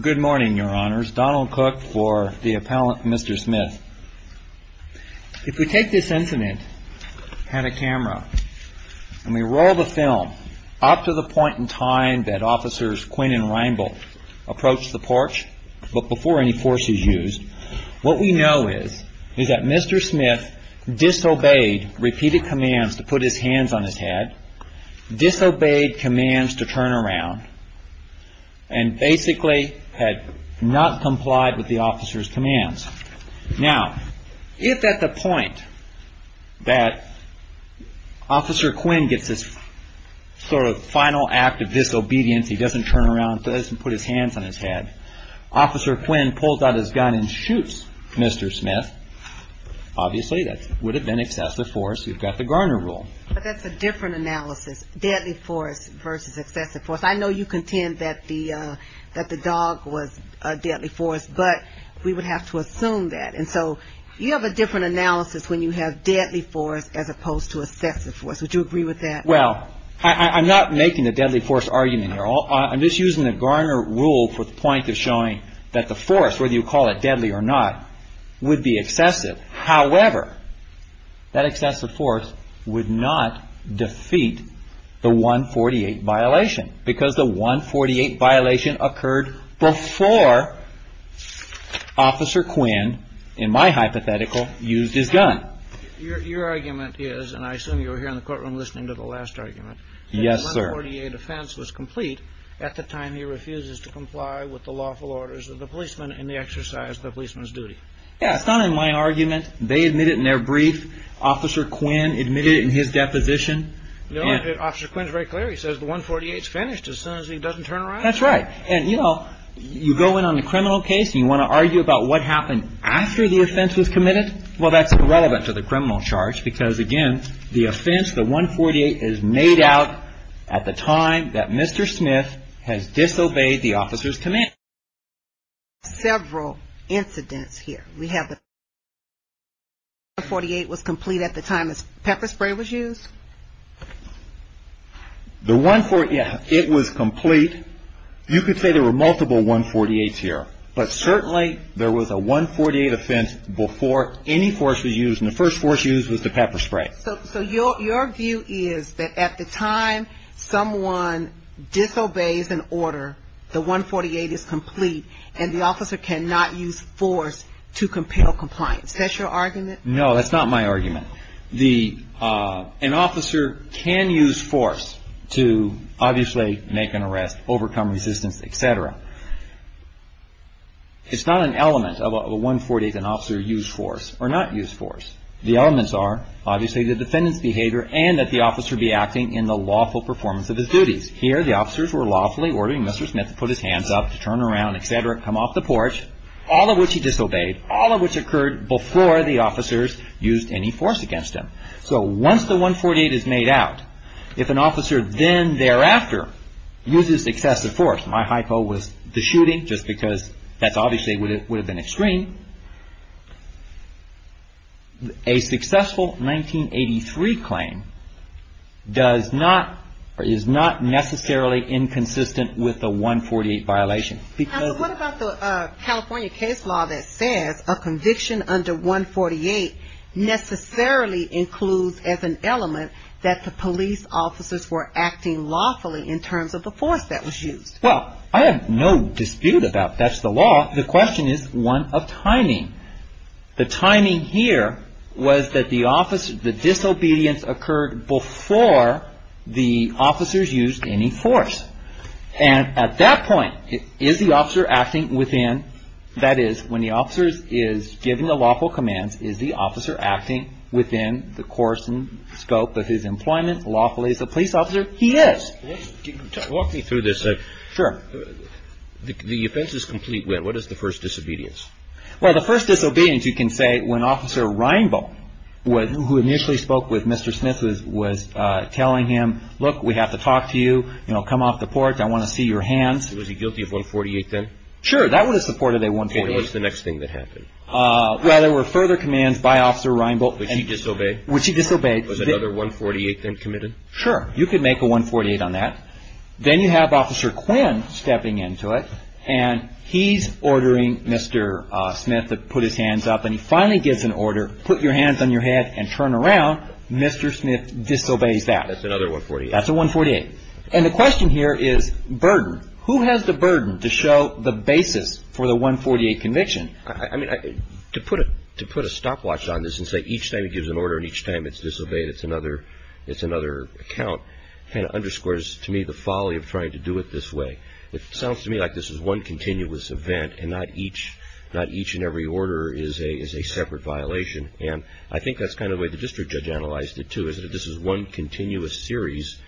Good morning, your honors. Donald Cook for the appellant, Mr. Smith. If we take this incident, had a camera, and we roll the film up to the point in time that officers Quinn and Reinbold approached the porch, but before any force is used, what we know is that Mr. Smith disobeyed repeated commands to put his hands on his head, disobeyed commands to turn around, and basically had not complied with the officer's commands. Now, if at the point that Officer Quinn gets this sort of final act of disobedience, he doesn't turn around, doesn't put his hands on his head, Officer Quinn pulls out his gun and shoots Mr. Smith, obviously that would have been excessive force. We've got the Garner rule. But that's a different analysis, deadly force versus excessive force. I know you contend that the dog was a deadly force, but we would have to assume that. And so you have a different analysis when you have deadly force as opposed to excessive force. Would you agree with that? Well, I'm not making the deadly force argument here. I'm just using the Garner rule for the point of showing that the force, whether you call it deadly or not, would be excessive. However, that excessive force would not defeat the 148 violation, because the 148 violation occurred before Officer Quinn, in my hypothetical, used his gun. Your argument is, and I assume you were here in the courtroom listening to the last argument. Yes, sir. The 148 offense was complete at the time he refuses to comply with the lawful orders of the policeman in the exercise of the policeman's duty. Yeah, it's not in my argument. They admit it in their brief. Officer Quinn admitted it in his deposition. Officer Quinn is very clear. He says the 148 is finished as soon as he doesn't turn around. That's right. And, you know, you go in on the criminal case and you want to argue about what happened after the offense was committed. Well, that's irrelevant to the criminal charge, because, again, the offense, the 148, is made out at the time that Mr. Smith has disobeyed the officer's command. Several incidents here. We have the 148 was complete at the time the pepper spray was used. The 148, it was complete. You could say there were multiple 148s here, but certainly there was a 148 offense before any force was used. And the first force used was the pepper spray. So your view is that at the time someone disobeys an order, the 148 is complete and the officer cannot use force to compel compliance. Is that your argument? No, that's not my argument. An officer can use force to, obviously, make an arrest, overcome resistance, etc. It's not an element of a 148 that an officer used force or not used force. The elements are, obviously, the defendant's behavior and that the officer be acting in the lawful performance of his duties. Here, the officers were lawfully ordering Mr. Smith to put his hands up, to turn around, etc., come off the porch, all of which he disobeyed, all of which occurred before the officers used any force against him. So once the 148 is made out, if an officer then thereafter uses excessive force, my hypo was the shooting, just because that obviously would have been extreme. A successful 1983 claim is not necessarily inconsistent with the 148 violation. What about the California case law that says a conviction under 148 necessarily includes as an element that the police officers were acting lawfully in terms of the force that was used? Well, I have no dispute about that's the law. The question is one of timing. The timing here was that the disobedience occurred before the officers used any force. And at that point, is the officer acting within, that is, when the officer is giving the lawful commands, is the officer acting within the course and scope of his employment lawfully as a police officer? He is. Walk me through this. Sure. The offense is complete wit. What is the first disobedience? Well, the first disobedience you can say when Officer Reinbold, who initially spoke with Mr. Smith, was telling him, look, we have to talk to you, you know, come off the porch, I want to see your hands. Was he guilty of 148 then? Sure. That would have supported a 148. What was the next thing that happened? Well, there were further commands by Officer Reinbold. Would she disobey? Would she disobey. Was another 148 then committed? Sure. You could make a 148 on that. Then you have Officer Quinn stepping into it, and he's ordering Mr. Smith to put his hands up. And he finally gives an order, put your hands on your head and turn around. Mr. Smith disobeys that. That's another 148. That's a 148. And the question here is burden. Who has the burden to show the basis for the 148 conviction? I mean, to put a stopwatch on this and say each time he gives an order and each time it's disobeyed, it's another account, kind of underscores to me the folly of trying to do it this way. It sounds to me like this is one continuous event, and not each and every order is a separate violation. And I think that's kind of the way the district judge analyzed it, too, is that this is one continuous series,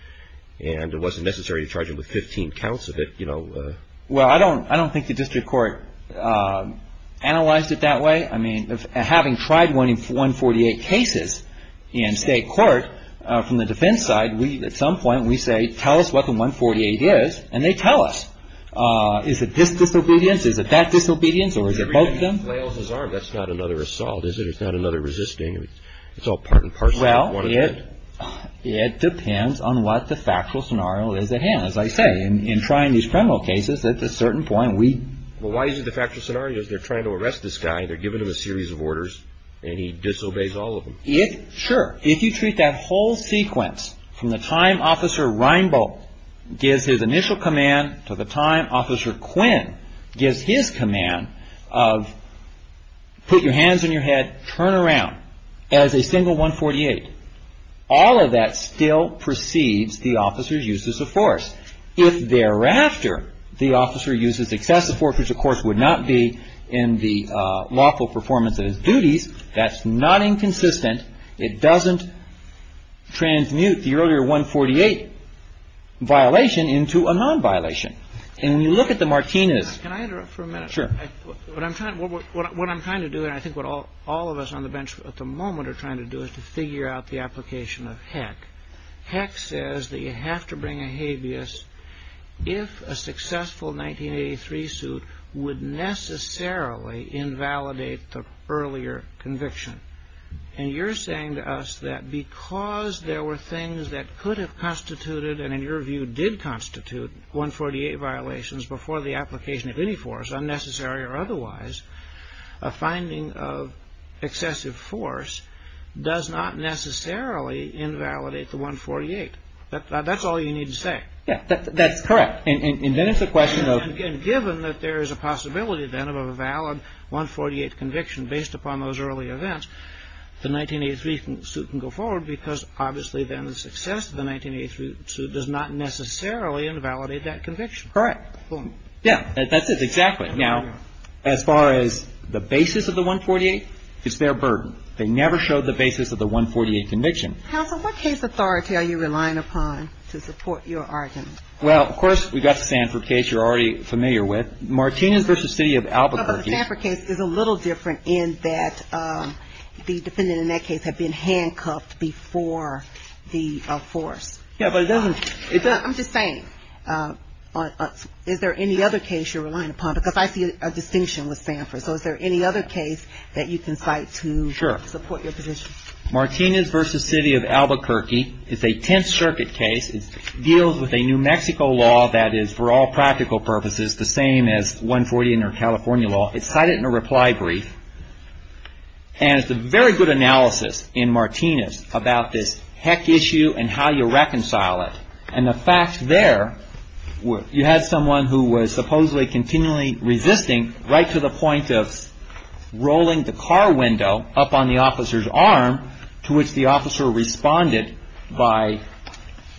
and it wasn't necessary to charge it with 15 counts of it. Well, I don't think the district court analyzed it that way. I mean, having tried 148 cases in state court from the defense side, at some point we say, tell us what the 148 is, and they tell us. Is it this disobedience? Is it that disobedience? Or is it both of them? If he flails his arm, that's not another assault, is it? It's not another resisting. It's all part and parcel. Well, it depends on what the factual scenario is at hand. As I say, in trying these criminal cases, at a certain point we... Well, why is it the factual scenario is they're trying to arrest this guy, and they're giving him a series of orders, and he disobeys all of them. Sure. If you treat that whole sequence from the time Officer Reinbold gives his initial command to the time Officer Quinn gives his command of put your hands on your head, turn around, as a single 148, all of that still precedes the officer's use of force. If thereafter the officer uses excessive force, which of course would not be in the lawful performance of his duties, that's not inconsistent. It doesn't transmute the earlier 148 violation into a non-violation. And when you look at the Martinez... Can I interrupt for a minute? Sure. What I'm trying to do, and I think what all of us on the bench at the moment are trying to do, is to figure out the application of Heck. Heck says that you have to bring a habeas if a successful 1983 suit would necessarily invalidate the earlier conviction. And you're saying to us that because there were things that could have constituted and in your view did constitute 148 violations before the application of any force, unnecessary or otherwise, a finding of excessive force does not necessarily invalidate the 148. That's all you need to say. Yeah, that's correct. And then it's a question of... If you have a 148 conviction, and you have a 148 conviction based upon those early events, the 1983 suit can go forward because obviously then the success of the 1983 suit does not necessarily invalidate that conviction. Correct. Yeah. That's it. Exactly. Now, as far as the basis of the 148, it's their burden. They never showed the basis of the 148 conviction. Counsel, what case authority are you relying upon to support your argument? Well, of course, we've got the Sanford case you're already familiar with. Martinez v. City of Albuquerque... But the Sanford case is a little different in that the defendant in that case had been handcuffed before the force. Yeah, but it doesn't... I'm just saying, is there any other case you're relying upon? Because I see a distinction with Sanford. So is there any other case that you can cite to support your position? Sure. Martinez v. City of Albuquerque is a Tenth Circuit case. It deals with a New Mexico law that is, for all practical purposes, the same as 140 and their California law. It's cited in a reply brief. And it's a very good analysis in Martinez about this heck issue and how you reconcile it. And the fact there, you had someone who was supposedly continually resisting right to the point of rolling the car window up on the officer's arm, to which the officer responded by...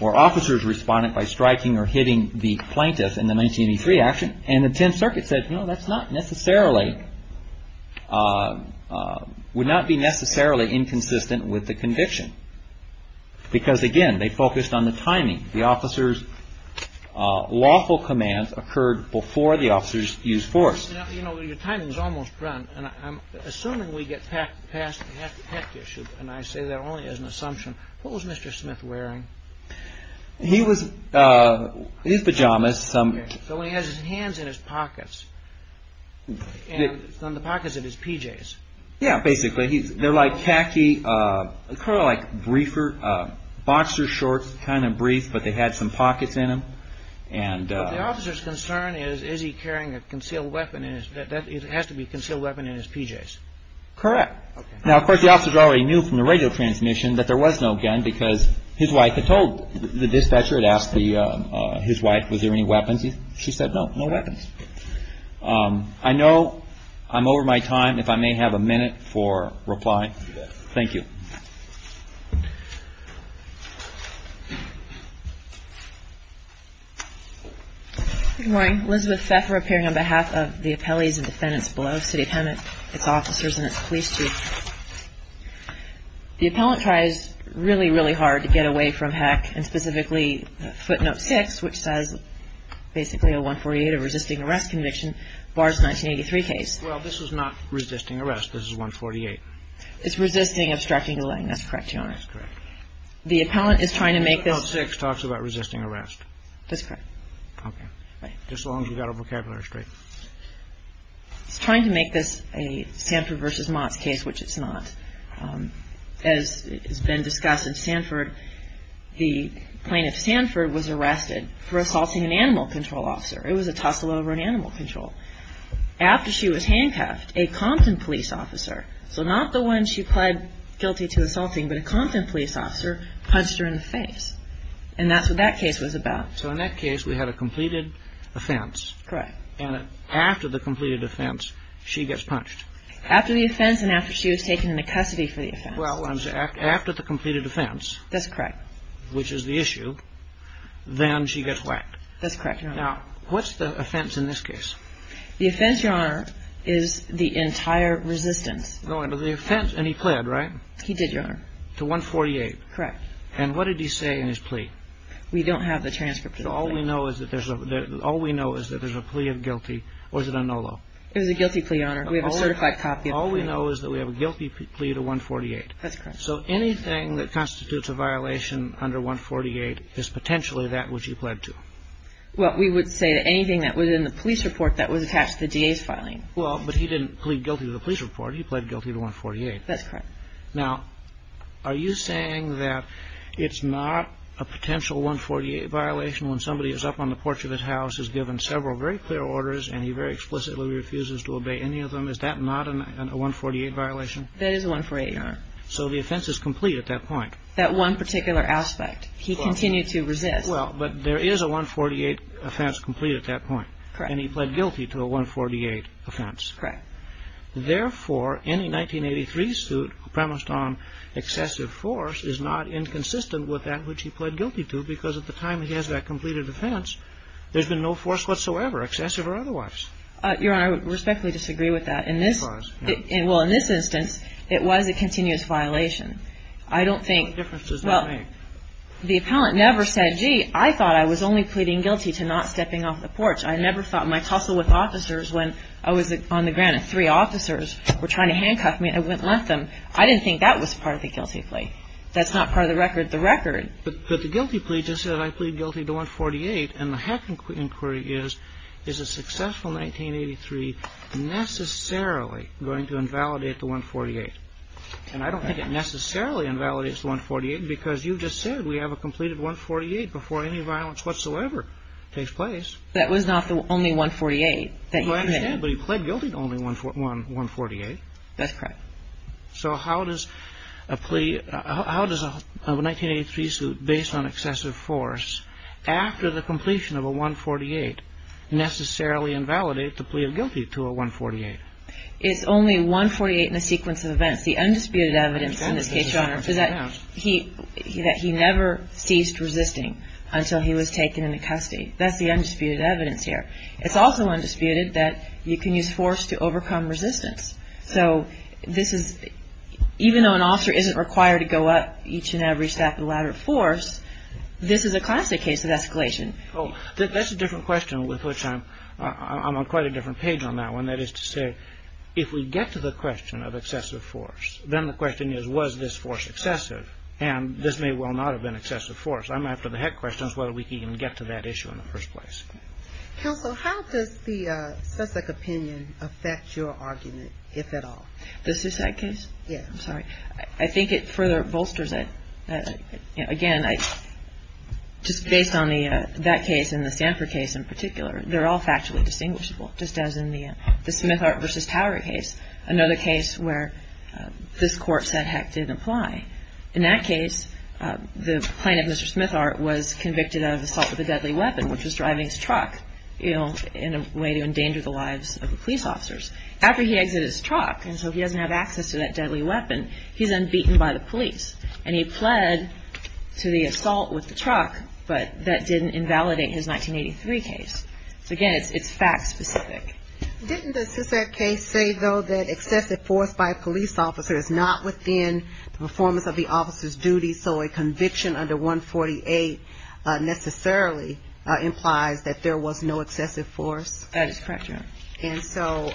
Or officers responded by striking or hitting the plaintiff in the 1983 action. And the Tenth Circuit said, no, that's not necessarily... Would not be necessarily inconsistent with the conviction. Because, again, they focused on the timing. The officer's lawful command occurred before the officer's used force. You know, your timing's almost run. And I'm assuming we get past the heck issue, and I say that only as an assumption. What was Mr. Smith wearing? He was... His pajamas, some... So he has his hands in his pockets. In the pockets of his PJs. Yeah, basically. They're like khaki, kind of like briefer, boxer shorts, kind of brief, but they had some pockets in them. And... But the officer's concern is, is he carrying a concealed weapon in his... It has to be a concealed weapon in his PJs. Correct. Now, of course, the officer already knew from the radio transmission that there was no gun because his wife had told... The dispatcher had asked his wife, was there any weapons? She said, no, no weapons. I know I'm over my time. If I may have a minute for reply. Thank you. Good morning. Elizabeth Pfeffer appearing on behalf of the appellees and defendants below. City of Hemet, its officers, and its police chief. The appellant tries really, really hard to get away from heck, and specifically footnote six, which says basically a 148, a resisting arrest conviction, bars 1983 case. Well, this was not resisting arrest. This is 148. It's resisting, obstructing, delaying. That's correct, Your Honor. That's correct. The appellant is trying to make this... Footnote six talks about resisting arrest. That's correct. Okay. Right. Just as long as we got our vocabulary straight. He's trying to make this a Sanford v. Motts case, which it's not. As has been discussed in Sanford, the plaintiff Sanford was arrested for assaulting an animal control officer. It was a tussle over an animal control. After she was handcuffed, a Compton police officer, so not the one she pled guilty to assaulting, but a Compton police officer, punched her in the face. And that's what that case was about. So in that case, we had a completed offense. Correct. And after the completed offense, she gets punched. After the offense and after she was taken into custody for the offense. Well, after the completed offense... That's correct. ...which is the issue, then she gets whacked. That's correct, Your Honor. Now, what's the offense in this case? The offense, Your Honor, is the entire resistance. The offense, and he pled, right? He did, Your Honor. To 148. Correct. And what did he say in his plea? We don't have the transcript of the plea. So all we know is that there's a plea of guilty. Or is it a no-law? It was a guilty plea, Your Honor. We have a certified copy of the plea. All we know is that we have a guilty plea to 148. That's correct. So anything that constitutes a violation under 148 is potentially that which he pled to. Well, we would say that anything that was in the police report that was attached to the DA's filing. Well, but he didn't plead guilty to the police report. He pled guilty to 148. That's correct. Now, are you saying that it's not a potential 148 violation when somebody is up on the porch of his house, has given several very clear orders, and he very explicitly refuses to obey any of them? Is that not a 148 violation? That is a 148, Your Honor. So the offense is complete at that point. That one particular aspect. He continued to resist. Well, but there is a 148 offense complete at that point. Correct. And he pled guilty to a 148 offense. Correct. Therefore, any 1983 suit premised on excessive force is not inconsistent with that which he pled guilty to because at the time he has that completed offense, there's been no force whatsoever, excessive or otherwise. Your Honor, I respectfully disagree with that. Well, in this instance, it was a continuous violation. I don't think the appellant never said, gee, I thought I was only pleading guilty to not stepping off the porch. I never thought my tussle with officers when I was on the ground and three officers were trying to handcuff me, I wouldn't let them. I didn't think that was part of the guilty plea. That's not part of the record. But the guilty plea just says I plead guilty to 148. And the heck inquiry is, is a successful 1983 necessarily going to invalidate the 148? And I don't think it necessarily invalidates the 148 because you just said we have a completed 148 before any violence whatsoever takes place. That was not the only 148 that he pled. But he pled guilty to only 148. That's correct. So how does a plea, how does a 1983 suit based on excessive force after the completion of a 148 necessarily invalidate the plea of guilty to a 148? It's only 148 in a sequence of events. The undisputed evidence in this case, Your Honor, is that he never ceased resisting until he was taken into custody. That's the undisputed evidence here. It's also undisputed that you can use force to overcome resistance. So this is, even though an officer isn't required to go up each and every step of the ladder of force, this is a classic case of escalation. Oh, that's a different question with which I'm on quite a different page on that one. That is to say, if we get to the question of excessive force, then the question is, was this force excessive? And this may well not have been excessive force. I'm after the heck questions whether we can even get to that issue in the first place. Counsel, how does the Sussex opinion affect your argument, if at all? The Sussex case? Yes. I'm sorry. I think it further bolsters it. Again, just based on that case and the Sanford case in particular, they're all factually distinguishable, just as in the Smithart v. Howard case, another case where this Court said, heck, didn't apply. In that case, the plaintiff, Mr. Smithart, was convicted of assault with a deadly weapon, which was driving his truck in a way to endanger the lives of the police officers. After he exits his truck, and so he doesn't have access to that deadly weapon, he's then beaten by the police. And he pled to the assault with the truck, but that didn't invalidate his 1983 case. So, again, it's fact specific. Didn't the Sussex case say, though, that excessive force by a police officer is not within the performance of the officer's duty, so a conviction under 148 necessarily implies that there was no excessive force? That is correct, Your Honor. And so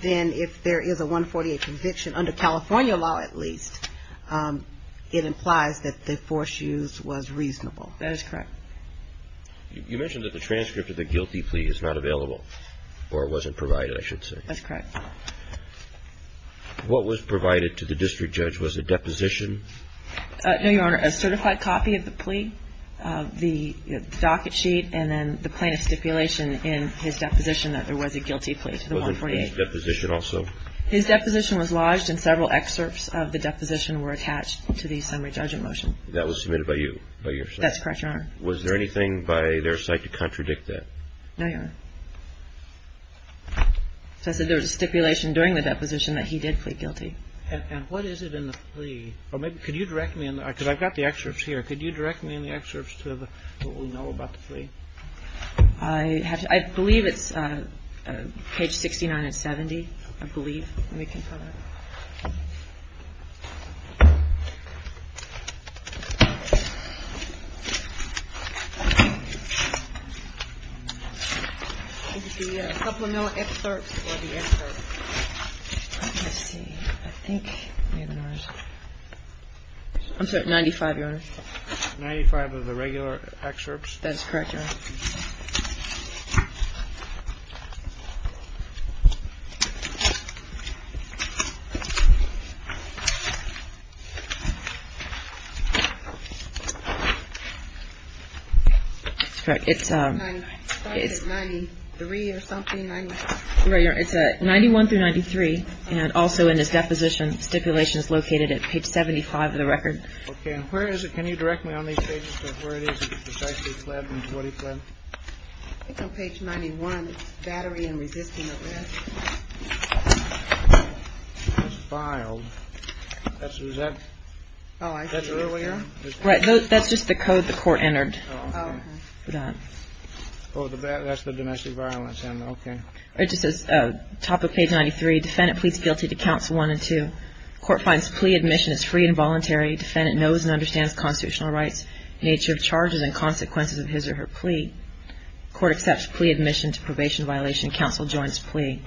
then if there is a 148 conviction, under California law at least, it implies that the force used was reasonable. That is correct. You mentioned that the transcript of the guilty plea is not available, or wasn't provided, I should say. That's correct. What was provided to the district judge? Was it deposition? No, Your Honor. A certified copy of the plea, the docket sheet, and then the plaintiff's stipulation in his deposition that there was a guilty plea to the 148. Wasn't his deposition also? His deposition was lodged, and several excerpts of the deposition were attached to the summary judgment motion. That was submitted by you, by your side? That's correct, Your Honor. Was there anything by their side to contradict that? No, Your Honor. So I said there was a stipulation during the deposition that he did plead guilty. And what is it in the plea? Or maybe could you direct me on that? Because I've got the excerpts here. Could you direct me on the excerpts to what we know about the plea? I believe it's page 69 and 70, I believe. Let me confirm that. Is it the supplemental excerpts or the excerpts? Let's see. I think maybe it was. I'm sorry. 95, Your Honor. 95 of the regular excerpts? That is correct, Your Honor. I thought it was 93 or something. Right. It's 91 through 93. And also in his deposition, stipulation is located at page 75 of the record. Okay. And where is it? Can you direct me on these pages to where it is? I think on page 91, battery and resisting arrest. It's filed. Is that earlier? Right. That's just the code the court entered. Oh, that's the domestic violence end. Okay. It just says top of page 93, defendant pleads guilty to counts one and two. Court finds plea admission is free and voluntary. Defendant knows and understands constitutional rights, nature of charges and consequences of his or her plea. Court accepts plea admission to probation violation. Counsel joins plea.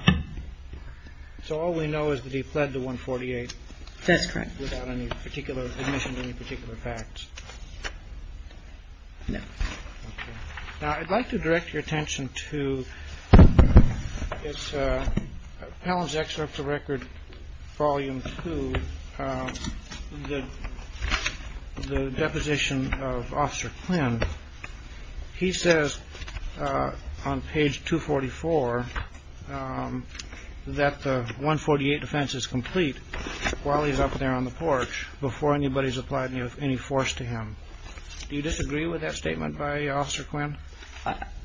So all we know is that he pled to 148. That's correct. Without any particular admission to any particular facts. No. Okay. I'd like to direct your attention to. It's Palin's excerpt of record volume two. The deposition of Officer Quinn. He says on page 244 that the 148 defense is complete while he's up there on the porch before anybody's applied any force to him. Do you disagree with that statement by Officer Quinn?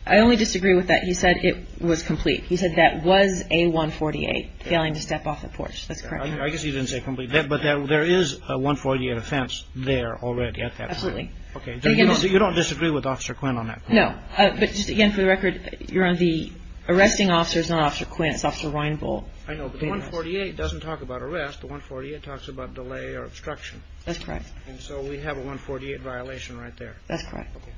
I only disagree with that. He said it was complete. He said that was a 148 failing to step off the porch. That's correct. I guess he didn't say complete. But there is a 148 offense there already. Absolutely. Okay. So you don't disagree with Officer Quinn on that? No. But just again, for the record, you're on the arresting officers, not Officer Quinn. It's Officer Reinvold. I know. But the 148 doesn't talk about arrest. The 148 talks about delay or obstruction. That's correct. And so we have a 148 violation right there. That's correct. Okay.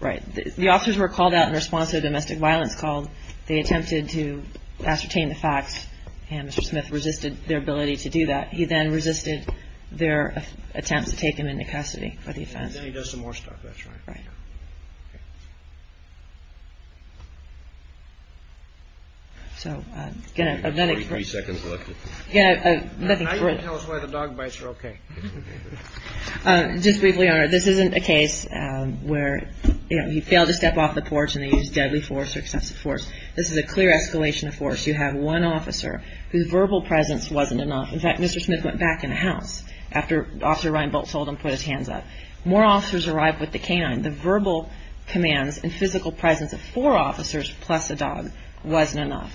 Right. The officers were called out in response to a domestic violence call. They attempted to ascertain the facts, and Mr. Smith resisted their ability to do that. He then resisted their attempt to take him into custody for the offense. And then he does some more stuff. That's right. Right. Okay. So, again, I have nothing. You have 33 seconds left. Again, I have nothing. Can I even tell us why the dog bites are okay? Just briefly, Your Honor, this isn't a case where he failed to step off the porch and they used deadly force or excessive force. This is a clear escalation of force. You have one officer whose verbal presence wasn't enough. In fact, Mr. Smith went back in the house after Officer Reinbold told him to put his hands up. More officers arrived with the canine. The verbal commands and physical presence of four officers plus a dog wasn't enough.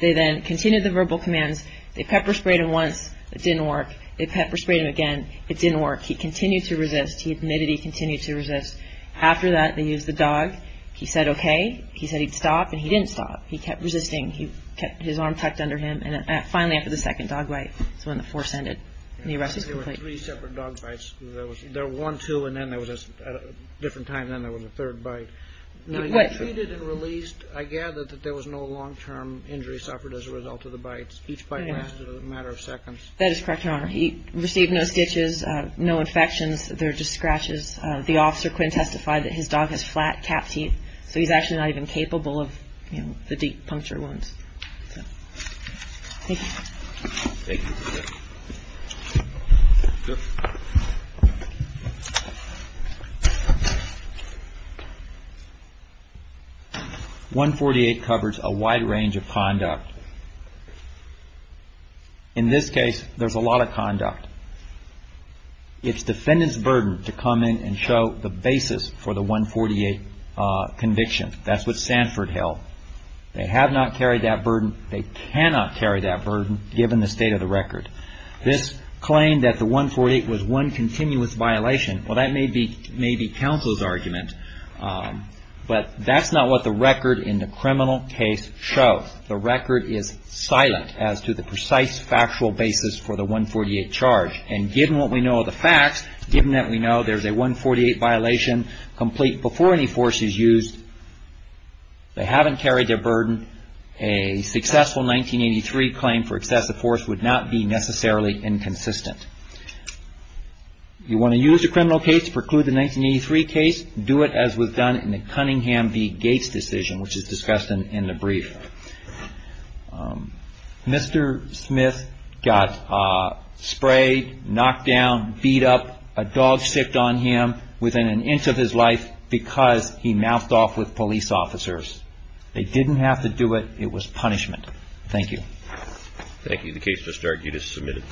They then continued the verbal commands. They pepper-sprayed him once. It didn't work. They pepper-sprayed him again. It didn't work. He continued to resist. He admitted he continued to resist. After that, they used the dog. He said, okay. He said he'd stop, and he didn't stop. He kept resisting. He kept his arm tucked under him. And finally, after the second dog bite is when the force ended and the arrest was complete. There were three separate dog bites. There were one, two, and then there was a different time, and then there was a third bite. Now, he was treated and released. I gather that there was no long-term injury suffered as a result of the bites. Each bite lasted a matter of seconds. That is correct, Your Honor. He received no stitches, no infections. There were just scratches. The officer, Quinn, testified that his dog has flat cat teeth, so he's actually not even capable of the deep puncture wounds. Thank you. Thank you. 148 covers a wide range of conduct. In this case, there's a lot of conduct. It's defendant's burden to come in and show the basis for the 148 conviction. That's what Sanford held. They have not carried that burden. They cannot carry that burden given the state of the record. This claimed that the 148 was one continuous violation. Well, that may be counsel's argument, but that's not what the record in the criminal case shows. The record is silent as to the precise factual basis for the 148 charge. And given what we know of the facts, given that we know there's a 148 violation complete before any force is used, they haven't carried their burden. A successful 1983 claim for excessive force would not be necessarily inconsistent. You want to use the criminal case to preclude the 1983 case, do it as was done in the Cunningham v. Gates decision, which is discussed in the brief. Mr. Smith got sprayed, knocked down, beat up, a dog sicced on him within an inch of his life because he mouthed off with police officers. They didn't have to do it. It was punishment. Thank you. Thank you. The case has started. You just submitted.